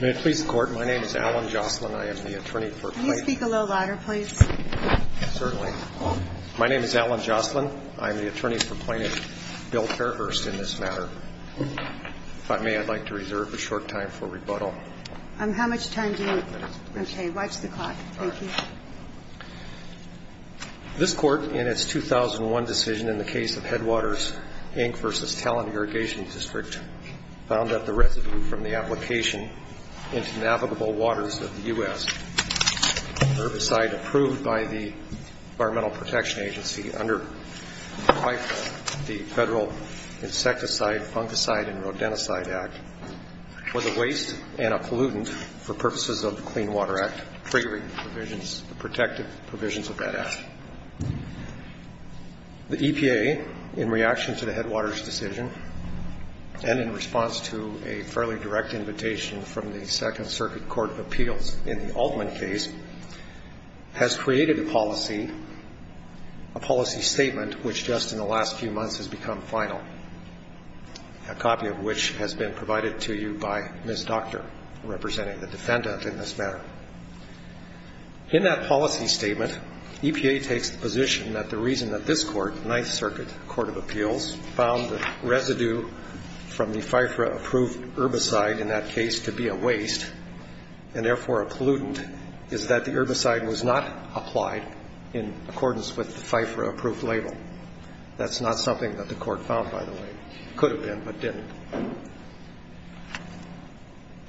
May it please the Court, my name is Alan Jocelyn, I am the attorney for Plaintiff Bill Fairhurst in this matter. If I may, I'd like to reserve a short time for rebuttal. How much time do you have? Okay, watch the clock. Thank you. This Court, in its 2001 decision in the case of Headwaters, Inc. v. Talon Irrigation District, found that the residue from the application into navigable waters of the U.S. herbicide approved by the Environmental Protection Agency under the federal Insecticide, Fungicide, and Rodenticide Act was a waste and a pollutant for purposes of the Clean Water Act, triggering the protective provisions of that Act. The EPA, in reaction to the Headwaters decision and in response to a fairly direct invitation from the Second Circuit Court of Appeals in the Altman case, has created a policy, a policy statement which just in the last few months has become final, a copy of which has been provided to you by Ms. Docter, representing the defendant in this matter. In that policy statement, EPA takes the position that the reason that this Court, Ninth Circuit Court of Appeals, found the residue from the FIFRA-approved herbicide in that case to be a waste and therefore a pollutant is that the herbicide was not applied in accordance with the FIFRA-approved label. That's not something that the Court found, by the way. Could have been, but didn't.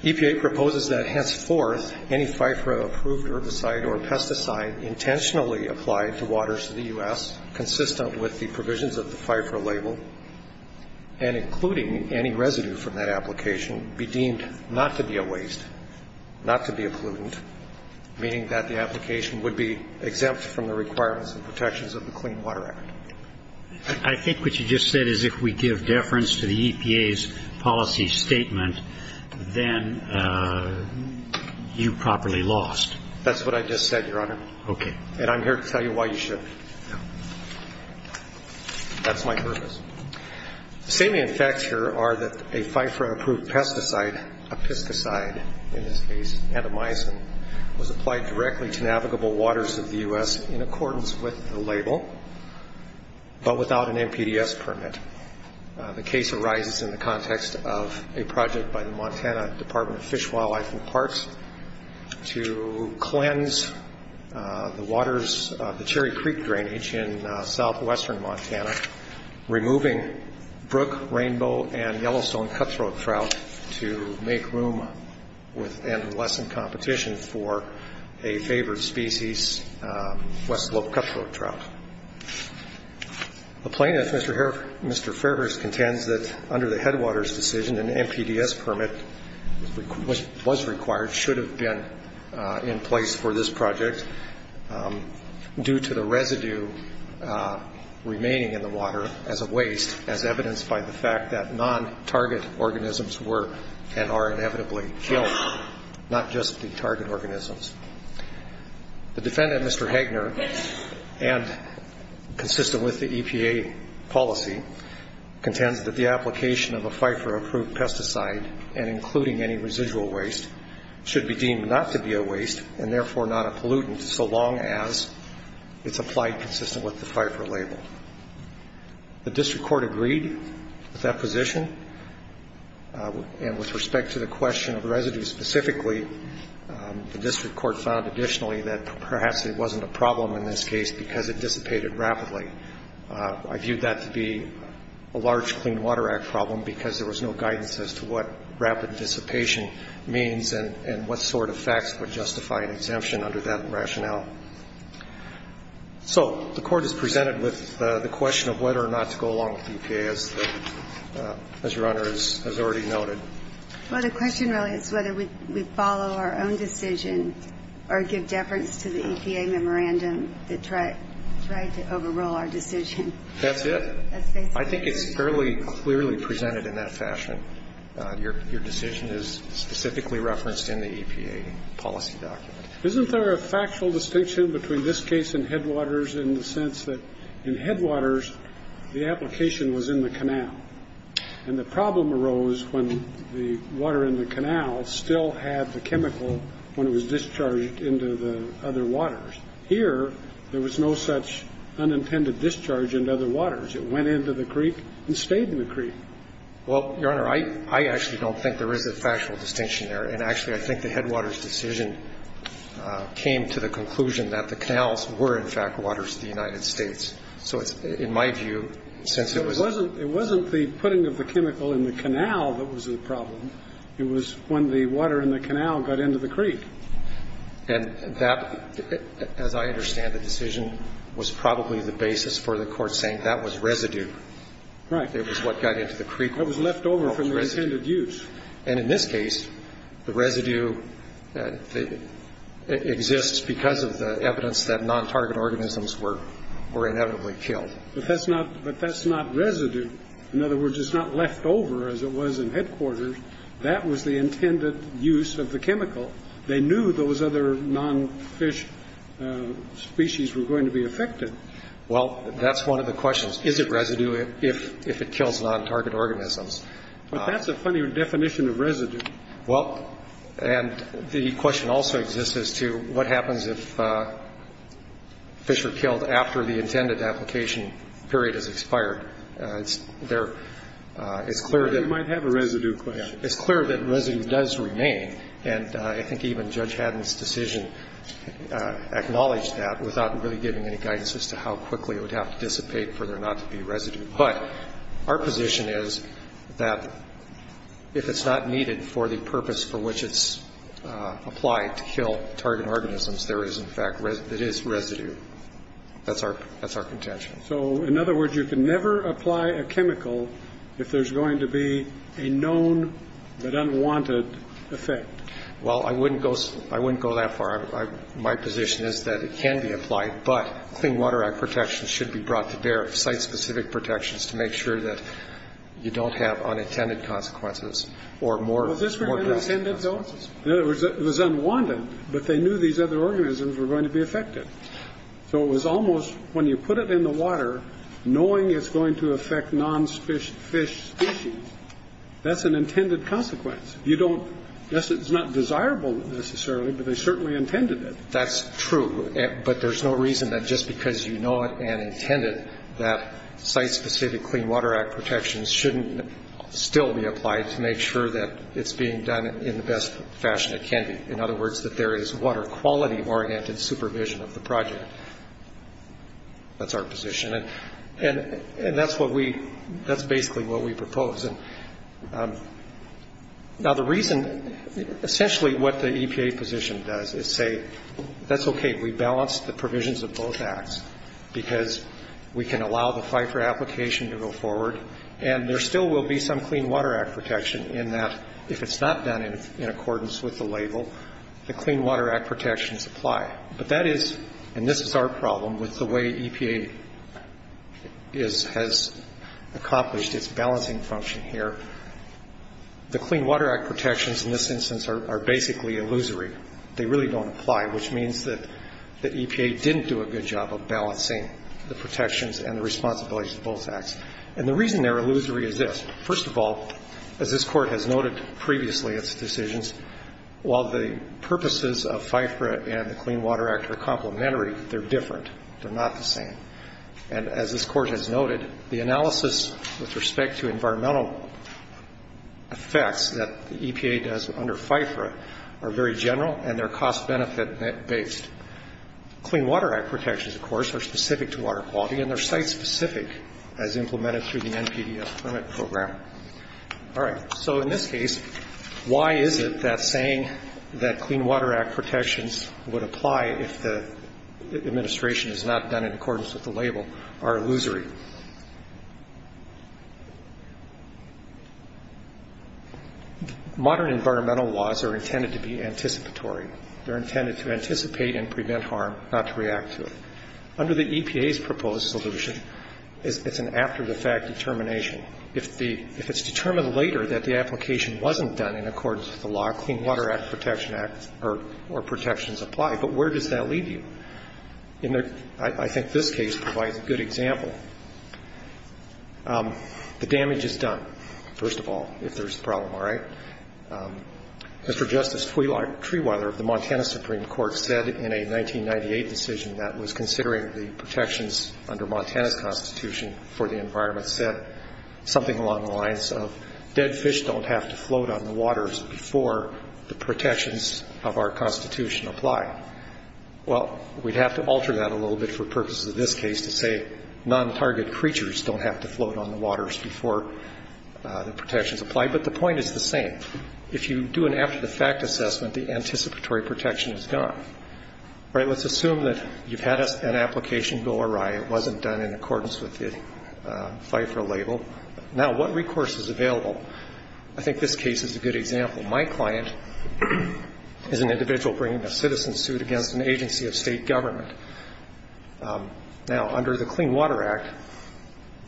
EPA proposes that henceforth any FIFRA-approved herbicide or pesticide intentionally applied to waters in the U.S. consistent with the provisions of the FIFRA label and including any residue from that application be deemed not to be a waste, not to be a pollutant, meaning that the application would be exempt from the requirements and protections of the Clean Water Act. I think what you just said is if we give deference to the EPA's policy statement, then you properly lost. That's what I just said, Your Honor. Okay. And I'm here to tell you why you should. That's my purpose. The same facts here are that a FIFRA-approved pesticide, a pesticide in this case, was applied directly to navigable waters of the U.S. in accordance with the label, but without an NPDES permit. The case arises in the context of a project by the Montana Department of Fish, Wildlife, and Parks to cleanse the waters of the Cherry Creek drainage in southwestern Montana, removing brook, rainbow, and Yellowstone cutthroat trout to make room and lessen competition for a favored species, West Slope cutthroat trout. The plaintiff, Mr. Fairhurst, contends that under the Headwaters decision, an NPDES permit was required, should have been in place for this project, due to the residue remaining in the water as a waste, as evidenced by the fact that non-target organisms were and are inevitably killed, not just the target organisms. The defendant, Mr. Hagner, and consistent with the EPA policy, contends that the application of a FIFRA-approved pesticide, and including any residual waste, should be deemed not to be a waste, and therefore not a pollutant, so long as it's applied consistent with the FIFRA label. The district court agreed with that position, and with respect to the question of residue specifically, the district court found additionally that perhaps it wasn't a problem in this case because it dissipated rapidly. I viewed that to be a large Clean Water Act problem because there was no guidance as to what rapid dissipation means and what sort of facts would justify an exemption under that rationale. So the Court is presented with the question of whether or not to go along with EPA, as Your Honor has already noted. Well, the question really is whether we follow our own decision or give deference to the EPA memorandum that tried to overrule our decision. That's it. That's basically it. I think it's fairly clearly presented in that fashion. Your decision is specifically referenced in the EPA policy document. Isn't there a factual distinction between this case and Headwaters in the sense that in Headwaters, the application was in the canal? And the problem arose when the water in the canal still had the chemical when it was discharged into the other waters. Here, there was no such unintended discharge into other waters. It went into the creek and stayed in the creek. Well, Your Honor, I actually don't think there is a factual distinction there. And actually, I think the Headwaters decision came to the conclusion that the canals were, in fact, waters of the United States. So in my view, since it was a ---- It wasn't the putting of the chemical in the canal that was the problem. It was when the water in the canal got into the creek. And that, as I understand the decision, was probably the basis for the Court saying that that was residue. Right. It was what got into the creek. That was left over from the intended use. And in this case, the residue exists because of the evidence that non-target organisms were inevitably killed. But that's not residue. In other words, it's not left over as it was in Headwaters. That was the intended use of the chemical. They knew those other non-fish species were going to be affected. Well, that's one of the questions. Is it residue if it kills non-target organisms? But that's a funny definition of residue. Well, and the question also exists as to what happens if fish are killed after the intended application period has expired. It's clear that ---- You might have a residue question. It's clear that residue does remain. And I think even Judge Haddon's decision acknowledged that without really giving any guidance as to how quickly it would have to dissipate for there not to be residue. But our position is that if it's not needed for the purpose for which it's applied to kill target organisms, there is, in fact, it is residue. That's our contention. So, in other words, you can never apply a chemical if there's going to be a known but unwanted effect. Well, I wouldn't go that far. My position is that it can be applied, but Clean Water Act protections should be brought to bear, site-specific protections, to make sure that you don't have unintended consequences or more ---- Was this really unintended though? It was unwanted, but they knew these other organisms were going to be affected. So it was almost when you put it in the water, knowing it's going to affect non-fish species, that's an intended consequence. You don't ---- Yes, it's not desirable necessarily, but they certainly intended it. That's true. But there's no reason that just because you know it and intend it, that site-specific Clean Water Act protections shouldn't still be applied to make sure that it's being done in the best fashion it can be. In other words, that there is water quality-oriented supervision of the project. That's our position, and that's what we ---- that's basically what we propose. Now, the reason ---- essentially what the EPA position does is say, that's okay, we balanced the provisions of both acts because we can allow the Pfeiffer application to go forward, and there still will be some Clean Water Act protection in that if it's not done in accordance with the label, the Clean Water Act protections apply. But that is ---- and this is our problem with the way EPA is ---- has accomplished its balancing function here. The Clean Water Act protections in this instance are basically illusory. They really don't apply, which means that the EPA didn't do a good job of balancing the protections and the responsibilities of both acts. And the reason they're illusory is this. First of all, as this Court has noted previously its decisions, while the purposes of Pfeiffer and the Clean Water Act are complementary, they're different. They're not the same. And as this Court has noted, the analysis with respect to environmental effects that the EPA does under Pfeiffer are very general, and they're cost-benefit-based. Clean Water Act protections, of course, are specific to water quality, and they're site-specific as implemented through the NPDF permit program. All right. So in this case, why is it that saying that Clean Water Act protections would apply if the administration has not done in accordance with the label are illusory? Modern environmental laws are intended to be anticipatory. They're intended to anticipate and prevent harm, not to react to it. Under the EPA's proposed solution, it's an after-the-fact determination. If it's determined later that the application wasn't done in accordance with the law, Clean Water Act protections apply. But where does that leave you? I think this case provides a good example. The damage is done, first of all, if there's a problem. All right. Mr. Justice, Treeweather of the Montana Supreme Court said in a 1998 decision that was considering the protections under Montana's Constitution for the environment said something along the lines of dead fish don't have to float on the waters before the protections of our Constitution apply. Well, we'd have to alter that a little bit for purposes of this case to say non-target creatures don't have to float on the waters before the protections apply. But the point is the same. If you do an after-the-fact assessment, the anticipatory protection is gone. All right. Let's assume that you've had an application go awry. It wasn't done in accordance with the FIFRA label. Now, what recourse is available? I think this case is a good example. My client is an individual bringing a citizen suit against an agency of state government. Now, under the Clean Water Act,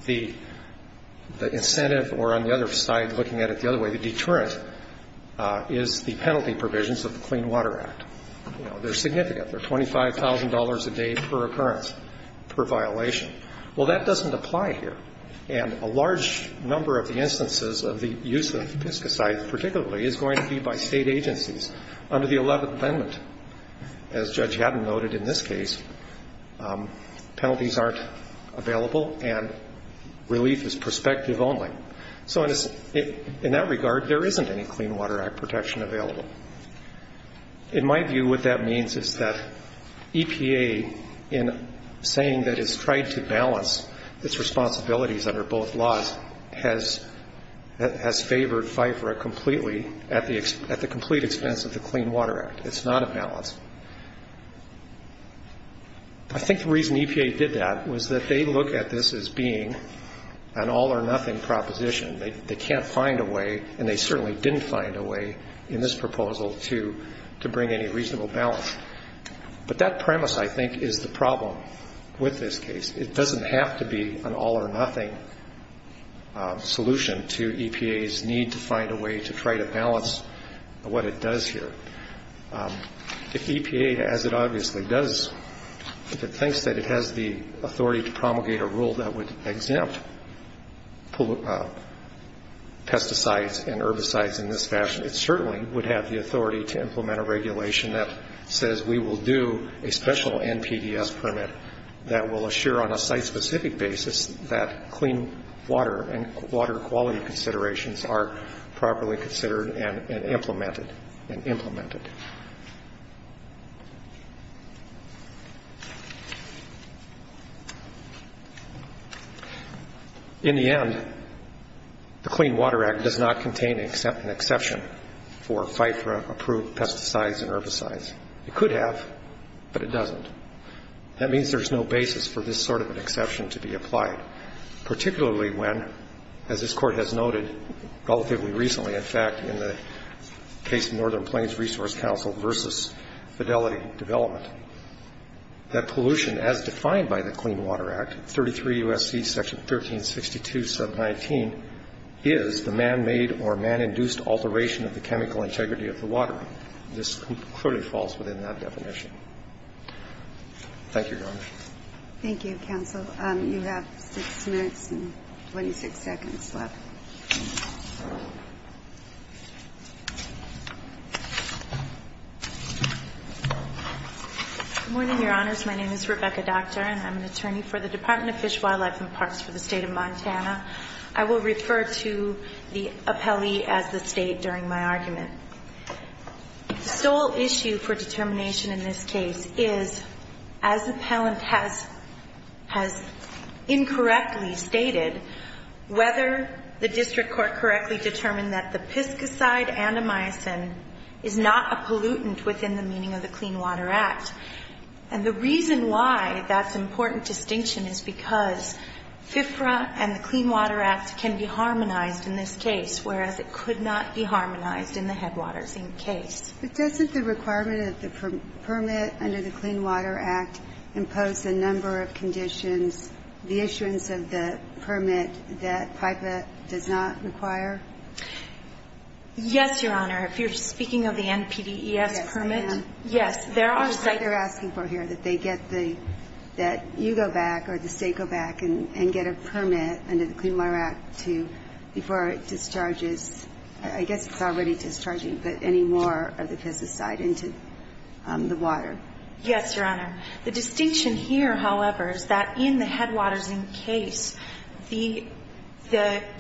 the incentive or, on the other side, looking at it the other way, the deterrent is the penalty provisions of the Clean Water Act. They're significant. They're $25,000 a day per occurrence, per violation. Well, that doesn't apply here. And a large number of the instances of the use of piscicide, particularly, is going to be by state agencies under the Eleventh Amendment. As Judge Haddon noted in this case, penalties aren't available and relief is prospective only. So in that regard, there isn't any Clean Water Act protection available. In my view, what that means is that EPA, in saying that it's tried to balance its responsibilities under both laws, has favored FIFRA completely at the complete expense of the Clean Water Act. It's not a balance. I think the reason EPA did that was that they look at this as being an all-or-nothing proposition. They can't find a way, and they certainly didn't find a way in this proposal to bring any reasonable balance. But that premise, I think, is the problem with this case. It doesn't have to be an all-or-nothing solution to EPA's need to find a way to try to balance what it does here. If EPA, as it obviously does, if it thinks that it has the authority to promulgate a rule that would exempt pesticides and herbicides in this fashion, it certainly would have the authority to implement a regulation that says we will do a special NPDES permit that will assure on a site-specific basis that clean water and water quality considerations are properly considered and implemented. In the end, the Clean Water Act does not contain an exception for FIFRA-approved pesticides and herbicides. It could have, but it doesn't. That means there's no basis for this sort of an exception to be applied, particularly when, as this Court has noted relatively recently, in fact, in the case of Northern Plains Resource Council versus Fidelity Development, that pollution as defined by the Clean Water Act, 33 U.S.C. section 1362, sub 19, is the man-made or man-induced alteration of the chemical integrity of the water. This clearly falls within that definition. Thank you, Your Honor. Thank you, counsel. You have 6 minutes and 26 seconds left. Good morning, Your Honors. My name is Rebecca Docter, and I'm an attorney for the Department of Fish, Wildlife and Parks for the State of Montana. I will refer to the appellee as the State during my argument. The sole issue for determination in this case is, as the appellant has incorrectly stated, whether the district court correctly determined that the piscicide and the myosin is not a pollutant within the meaning of the Clean Water Act. And the reason why that's an important distinction is because FIFRA and the Clean Water Act can be harmonized in this case, whereas it could not be harmonized in the headwaters in the case. But doesn't the requirement of the permit under the Clean Water Act impose a number of conditions, the issuance of the permit that PIPA does not require? Yes, Your Honor. If you're speaking of the NPDES permit. Yes, I am. Yes, there are. That's what they're asking for here, that they get the – that you go back or the State go back and get a permit under the Clean Water Act to – before it discharges – I guess it's already discharging, but any more of the piscicide into the water. Yes, Your Honor. The distinction here, however, is that in the headwaters in the case, the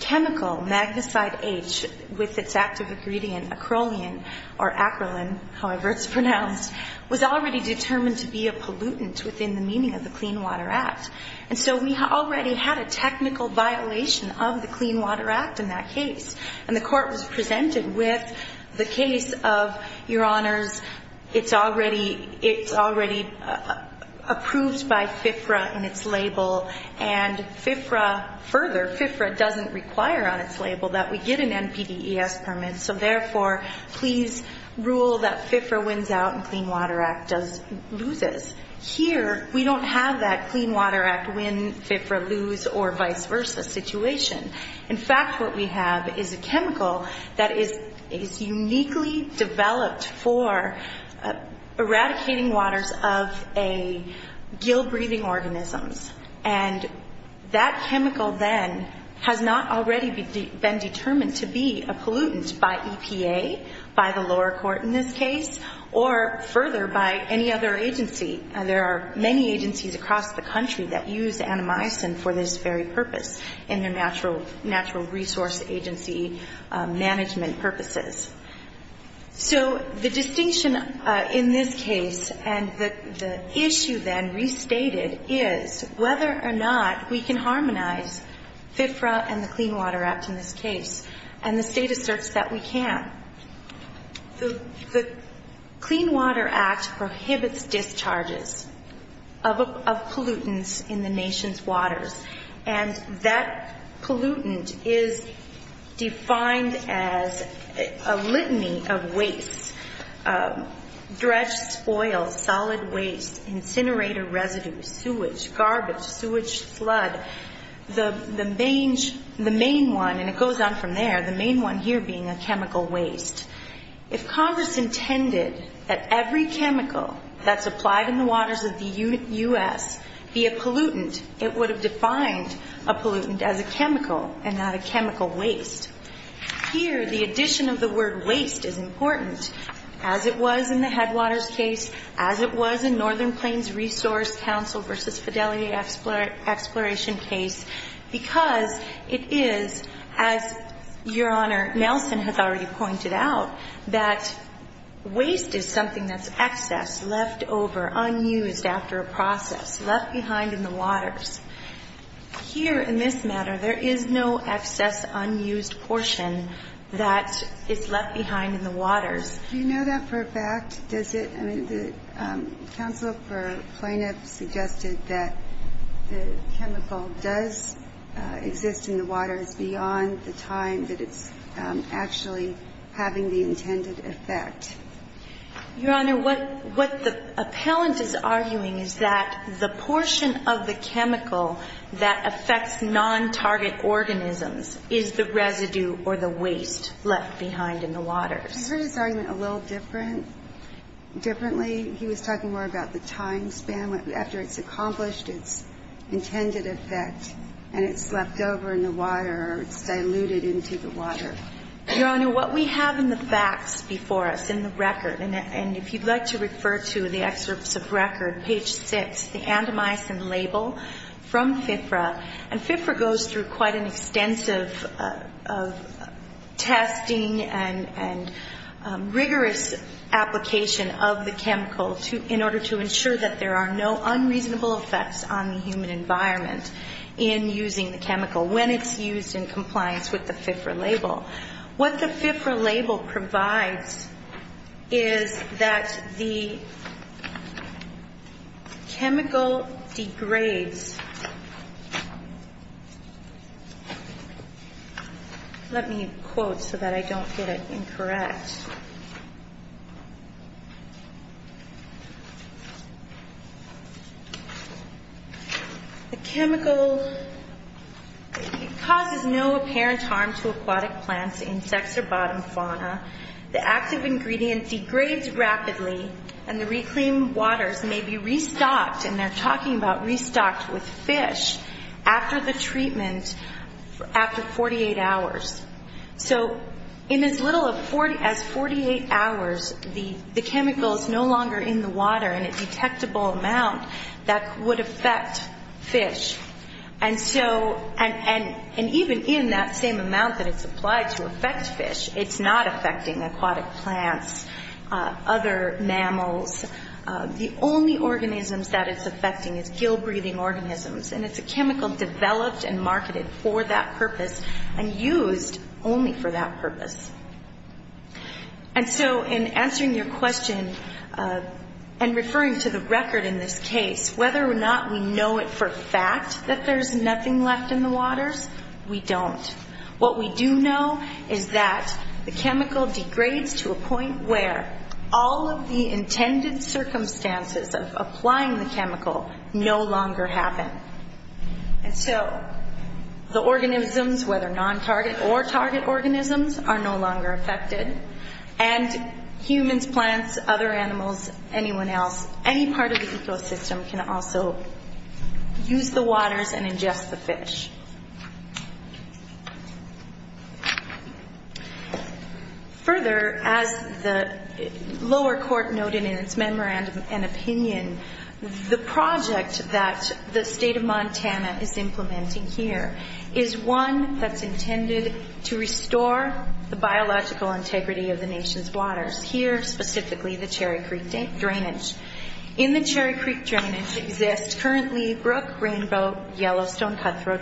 chemical, magnesite H, with its active ingredient, acrolein, or acrolein, however it's pronounced, was already determined to be a pollutant within the meaning of the Clean Water Act. And so we already had a technical violation of the Clean Water Act in that case. And the court was presented with the case of, Your Honors, it's already approved by FFRA in its label, and FFRA – further, FFRA doesn't require on its label that we get an NPDES permit, so therefore, please rule that FFRA wins out and Clean Water Act loses. Here, we don't have that Clean Water Act win, FFRA lose, or vice versa situation. In fact, what we have is a chemical that is uniquely developed for eradicating waters of a – gill-breathing organisms. And that chemical then has not already been determined to be a pollutant by EPA, by the lower court in this case, or further, by any other agency. There are many agencies across the country that use anamycin for this very purpose in their natural resource agency management purposes. So the distinction in this case, and the issue then restated, is whether or not we can harmonize FFRA and the Clean Water Act in this case, and the state asserts that we can. The Clean Water Act prohibits discharges of pollutants in the nation's waters, and that pollutant is defined as a litany of waste, dredged spoil, solid waste, incinerator residue, sewage, garbage, sewage flood. The main one, and it goes on from there, the main one here being a chemical waste. If Congress intended that every chemical that's applied in the waters of the U.S. be a pollutant, it would have defined a pollutant as a chemical and not a chemical waste. Here, the addition of the word waste is important, as it was in the Headwaters case, as it was in Northern Plains Resource Council v. Fidelity Exploration case, because it is, as Your Honor, Nelson has already pointed out, that waste is something that's excess, left over, unused after a process, left behind in the waters. Here, in this matter, there is no excess unused portion that is left behind in the waters. Do you know that for a fact? Does it? I mean, the counsel for plaintiff suggested that the chemical does exist in the waters beyond the time that it's actually having the intended effect. Your Honor, what the appellant is arguing is that the portion of the chemical that affects non-target organisms is the residue or the waste left behind in the waters. I heard his argument a little different, differently. He was talking more about the time span after it's accomplished its intended effect and it's left over in the water or it's diluted into the water. Your Honor, what we have in the facts before us in the record, and if you'd like to refer to the excerpts of record, page 6, the andamycin label from FIFRA. And FIFRA goes through quite an extensive testing and rigorous application of the chemical in order to ensure that there are no unreasonable effects on the human environment in using the chemical when it's used in compliance with the FIFRA label. What the FIFRA label provides is that the chemical degrades. Let me quote so that I don't get it incorrect. The chemical causes no apparent harm to aquatic plants, insects, or bottom fauna. The active ingredient degrades rapidly and the reclaimed waters may be restocked, and they're talking about restocked with fish, after the treatment, after 48 hours. So in as little as 48 hours, the chemical is no longer in the water in a detectable amount that would affect fish. And even in that same amount that it's applied to affect fish, it's not affecting aquatic plants, other mammals. The only organisms that it's affecting is gill-breathing organisms, and it's a chemical developed and marketed for that purpose and used only for that purpose. And so in answering your question and referring to the record in this case, whether or not we know it for a fact that there's nothing left in the waters, we don't. What we do know is that the chemical degrades to a point where all of the intended circumstances of applying the chemical no longer happen. And so the organisms, whether non-target or target organisms, are no longer affected. And humans, plants, other animals, anyone else, any part of the ecosystem can also use the waters and ingest the fish. Further, as the lower court noted in its memorandum and opinion, the project that the state of Montana is implementing here is one that's intended to restore the biological integrity of the nation's waters, here specifically the Cherry Creek drainage. In the Cherry Creek drainage exists currently brook, rainbow, yellowstone, cutthroat,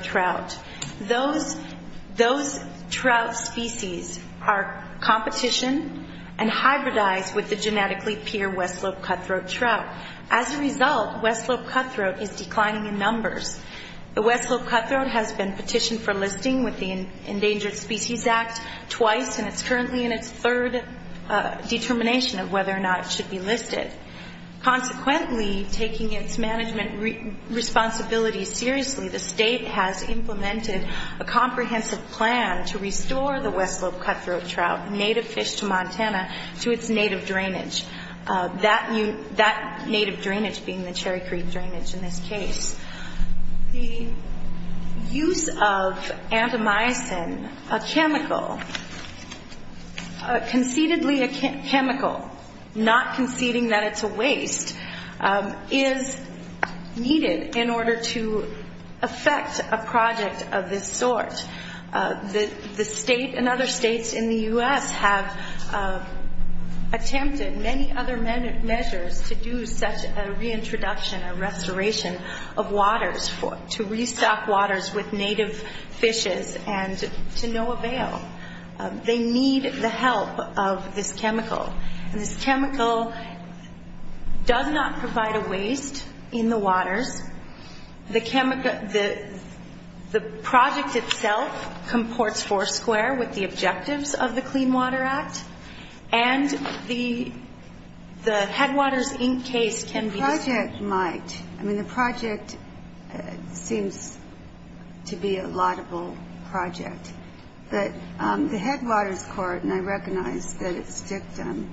Those trout species are competition and hybridized with the genetically pure West Slope cutthroat trout. As a result, West Slope cutthroat is declining in numbers. The West Slope cutthroat has been petitioned for listing with the Endangered Species Act twice, and it's currently in its third determination of whether or not it should be listed. Consequently, taking its management responsibilities seriously, the state has implemented a comprehensive plan to restore the West Slope cutthroat trout, native fish to Montana, to its native drainage, that native drainage being the Cherry Creek drainage in this case. The use of antamycin, a chemical, concededly a chemical, not conceding that it's a waste, is needed in order to affect a project of this sort. The state and other states in the U.S. have attempted many other measures to do such a reintroduction, a restoration of waters, to restock waters with native fishes and to no avail. They need the help of this chemical. This chemical does not provide a waste in the waters. The project itself comports foursquare with the objectives of the Clean Water Act, and the Headwaters Inc. case can be disputed. The project might. I mean, the project seems to be a laudable project. But the Headwaters Court, and I recognize that it's dictum,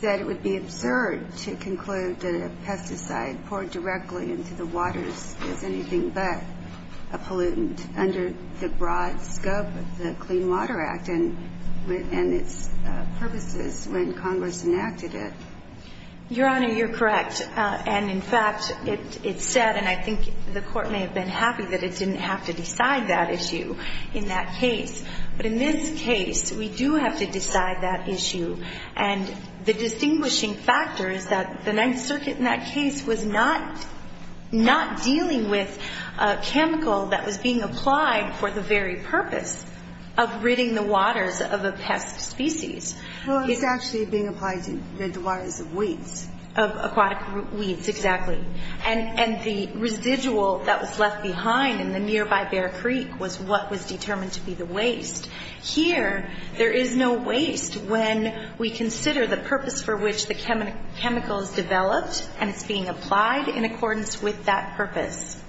said it would be absurd to conclude that a pesticide poured directly into the waters is anything but a pollutant under the broad scope of the Clean Water Act. And its purpose is when Congress enacted it. Your Honor, you're correct. And, in fact, it said, and I think the Court may have been happy that it didn't have to decide that issue in that case. But in this case, we do have to decide that issue. And the distinguishing factor is that the Ninth Circuit in that case was not dealing with a chemical that was being applied for the very purpose of ridding the waters of a pest species. Well, it's actually being applied to rid the waters of weeds. Of aquatic weeds, exactly. And the residual that was left behind in the nearby Bear Creek was what was determined to be the waste. Here, there is no waste when we consider the purpose for which the chemical is developed and it's being applied in accordance with that purpose.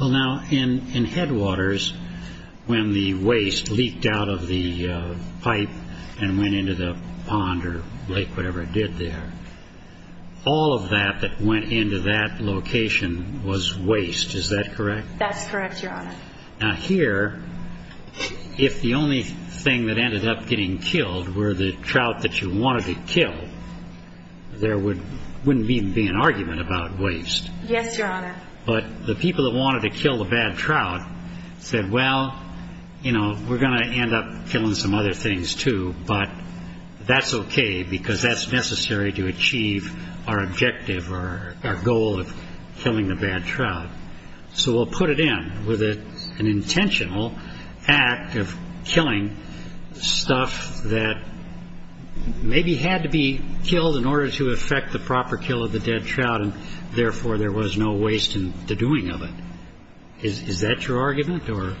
Well, now, in Headwaters, when the waste leaked out of the pipe and went into the pond or lake, whatever it did there, all of that that went into that location was waste. Is that correct? That's correct, Your Honor. Now, here, if the only thing that ended up getting killed were the trout that you wanted to kill, there wouldn't even be an argument about waste. Yes, Your Honor. But the people that wanted to kill the bad trout said, well, you know, we're going to end up killing some other things too, but that's okay because that's necessary to achieve our objective or our goal of killing the bad trout. So we'll put it in with an intentional act of killing stuff that maybe had to be killed in order to effect the proper kill of the dead trout and, therefore, there was no waste in the doing of it. Is that your argument or?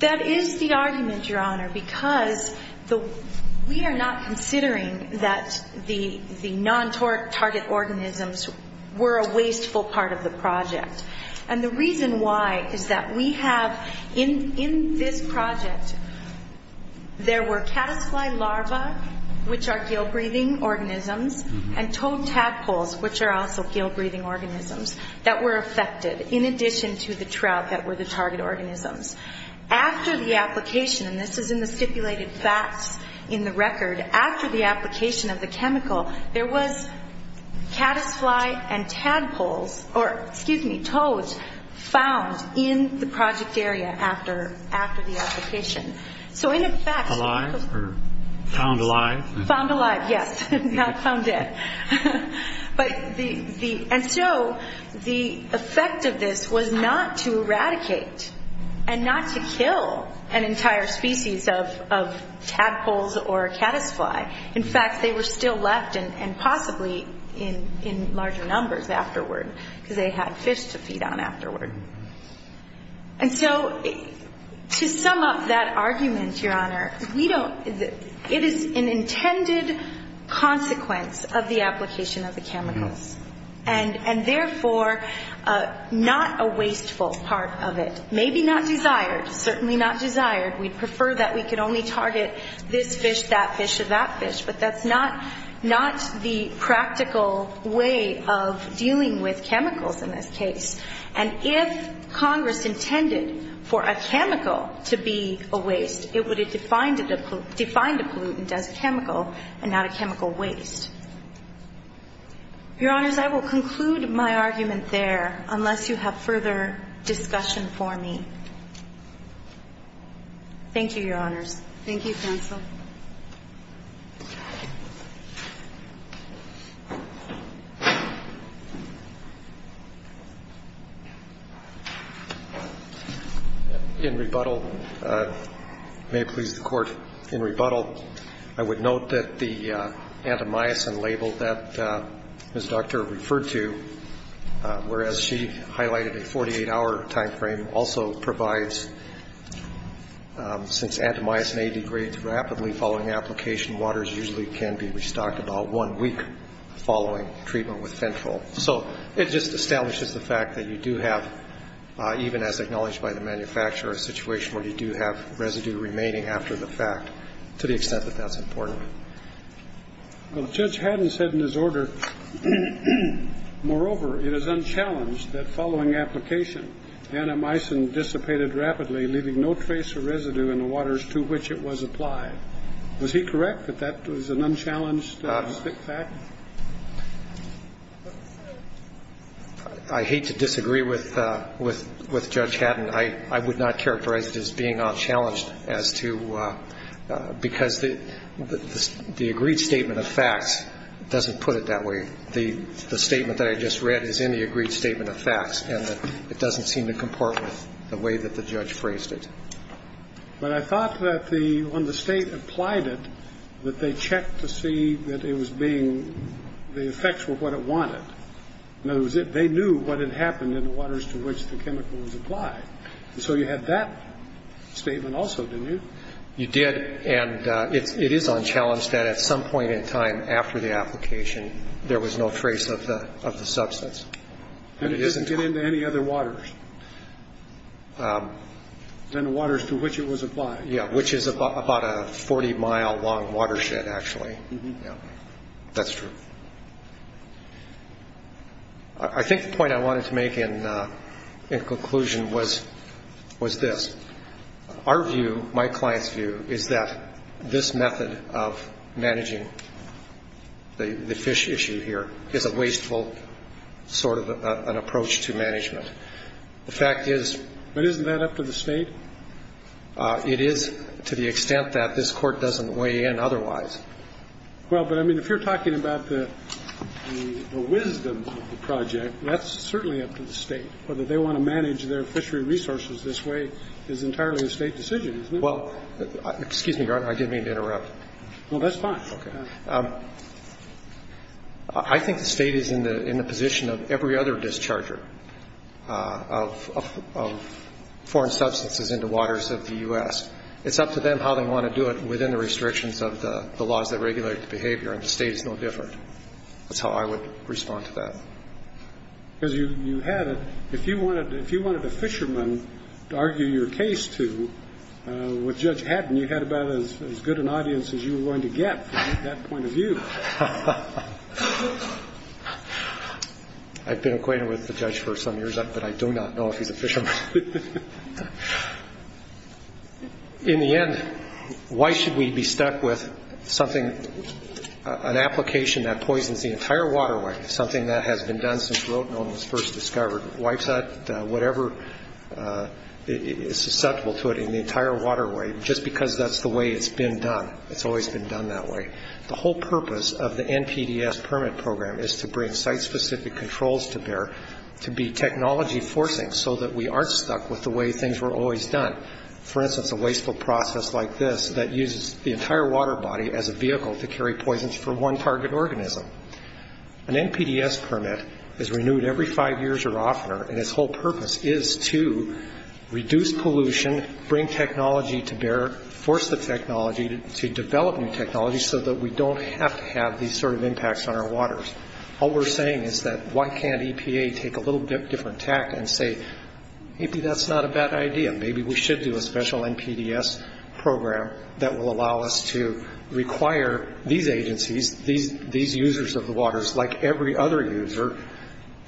That is the argument, Your Honor, because we are not considering that the non-target organisms were a wasteful part of the project. And the reason why is that we have, in this project, there were caddisfly larvae, which are gill-breathing organisms, and toad tadpoles, which are also gill-breathing organisms, that were affected in addition to the trout that were the target organisms. After the application, and this is in the stipulated facts in the record, after the application of the chemical, there was caddisfly and toads found in the project area after the application. Alive or found alive? Found alive, yes, not found dead. And so the effect of this was not to eradicate and not to kill an entire species of tadpoles or caddisfly. In fact, they were still left and possibly in larger numbers afterward because they had fish to feed on afterward. And so to sum up that argument, Your Honor, it is an intended consequence of the application of the chemicals, and, therefore, not a wasteful part of it. Maybe not desired, certainly not desired. We'd prefer that we could only target this fish, that fish, or that fish, but that's not the practical way of dealing with chemicals in this case. And if Congress intended for a chemical to be a waste, it would have defined a pollutant as chemical and not a chemical waste. Your Honors, I will conclude my argument there unless you have further discussion for me. Thank you, Your Honors. Thank you, counsel. In rebuttal, may it please the Court, in rebuttal, I would note that the antimyosin label that Ms. Doctor referred to, whereas she highlighted a 48-hour time frame, also provides since antimyosin may degrade rapidly following application, waters usually can be restocked about one week following treatment with fentanyl. So it just establishes the fact that you do have, even as acknowledged by the manufacturer, a situation where you do have residue remaining after the fact. To the extent that that's important. Well, Judge Haddon said in his order, moreover, it is unchallenged that following application, antimyosin dissipated rapidly, leaving no trace or residue in the waters to which it was applied. Was he correct that that was an unchallenged fact? I hate to disagree with Judge Haddon. I would not characterize it as being unchallenged as to, because the agreed statement of facts doesn't put it that way. The statement that I just read is in the agreed statement of facts, and it doesn't seem to comport with the way that the judge phrased it. But I thought that the, when the State applied it, that they checked to see that it was being, the effects were what it wanted. In other words, they knew what had happened in the waters to which the chemical was applied. So you had that statement also, didn't you? You did, and it is unchallenged that at some point in time after the application, there was no trace of the substance. And it didn't get into any other waters than the waters to which it was applied. Yeah, which is about a 40-mile long watershed, actually. That's true. I think the point I wanted to make in conclusion was this. Our view, my client's view, is that this method of managing the fish issue here is a wasteful sort of an approach to management. The fact is to the extent that this Court doesn't weigh in otherwise, well, but I mean, if you're talking about the wisdom of the project, that's certainly up to the State. Whether they want to manage their fishery resources this way is entirely a State decision, isn't it? Well, excuse me, Your Honor, I did mean to interrupt. No, that's fine. Okay. I think the State is in the position of every other discharger of foreign substances into waters of the U.S. It's up to them how they want to do it within the restrictions of the laws that regulate the behavior, and the State is no different. That's how I would respond to that. Because you have it. If you wanted a fisherman to argue your case to, what Judge Haddon, you had about as good an audience as you were going to get from that point of view. I've been acquainted with the judge for some years, but I do not know if he's a fisherman. In the end, why should we be stuck with something, an application that poisons the entire waterway, something that has been done since rhodenone was first discovered, wipes out whatever is susceptible to it in the entire waterway, just because that's the way it's been done. It's always been done that way. The whole purpose of the NPDES permit program is to bring site-specific controls to bear, to be technology forcing so that we aren't stuck with the way things were always done. For instance, a wasteful process like this that uses the entire water body as a vehicle to carry poisons for one target organism. An NPDES permit is renewed every five years or oftener, and its whole purpose is to reduce pollution, bring technology to bear, force the technology to develop new technology so that we don't have to have these sort of impacts on our waters. All we're saying is that why can't EPA take a little bit different tact and say, maybe that's not a bad idea, maybe we should do a special NPDES program that will allow us to require these agencies, these users of the waters, like every other user,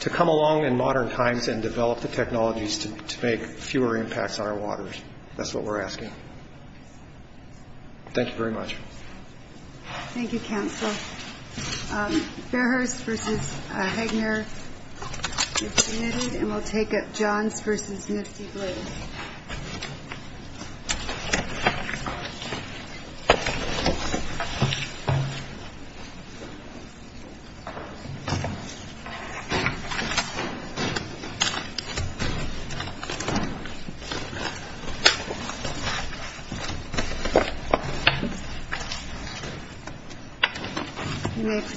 to come along in modern times and develop the technologies to make fewer impacts on our waters. That's what we're asking. Thank you very much. Thank you, Counsel. Fairhurst versus Hegner. And we'll take up Johns versus Nifty Blue. Thank you.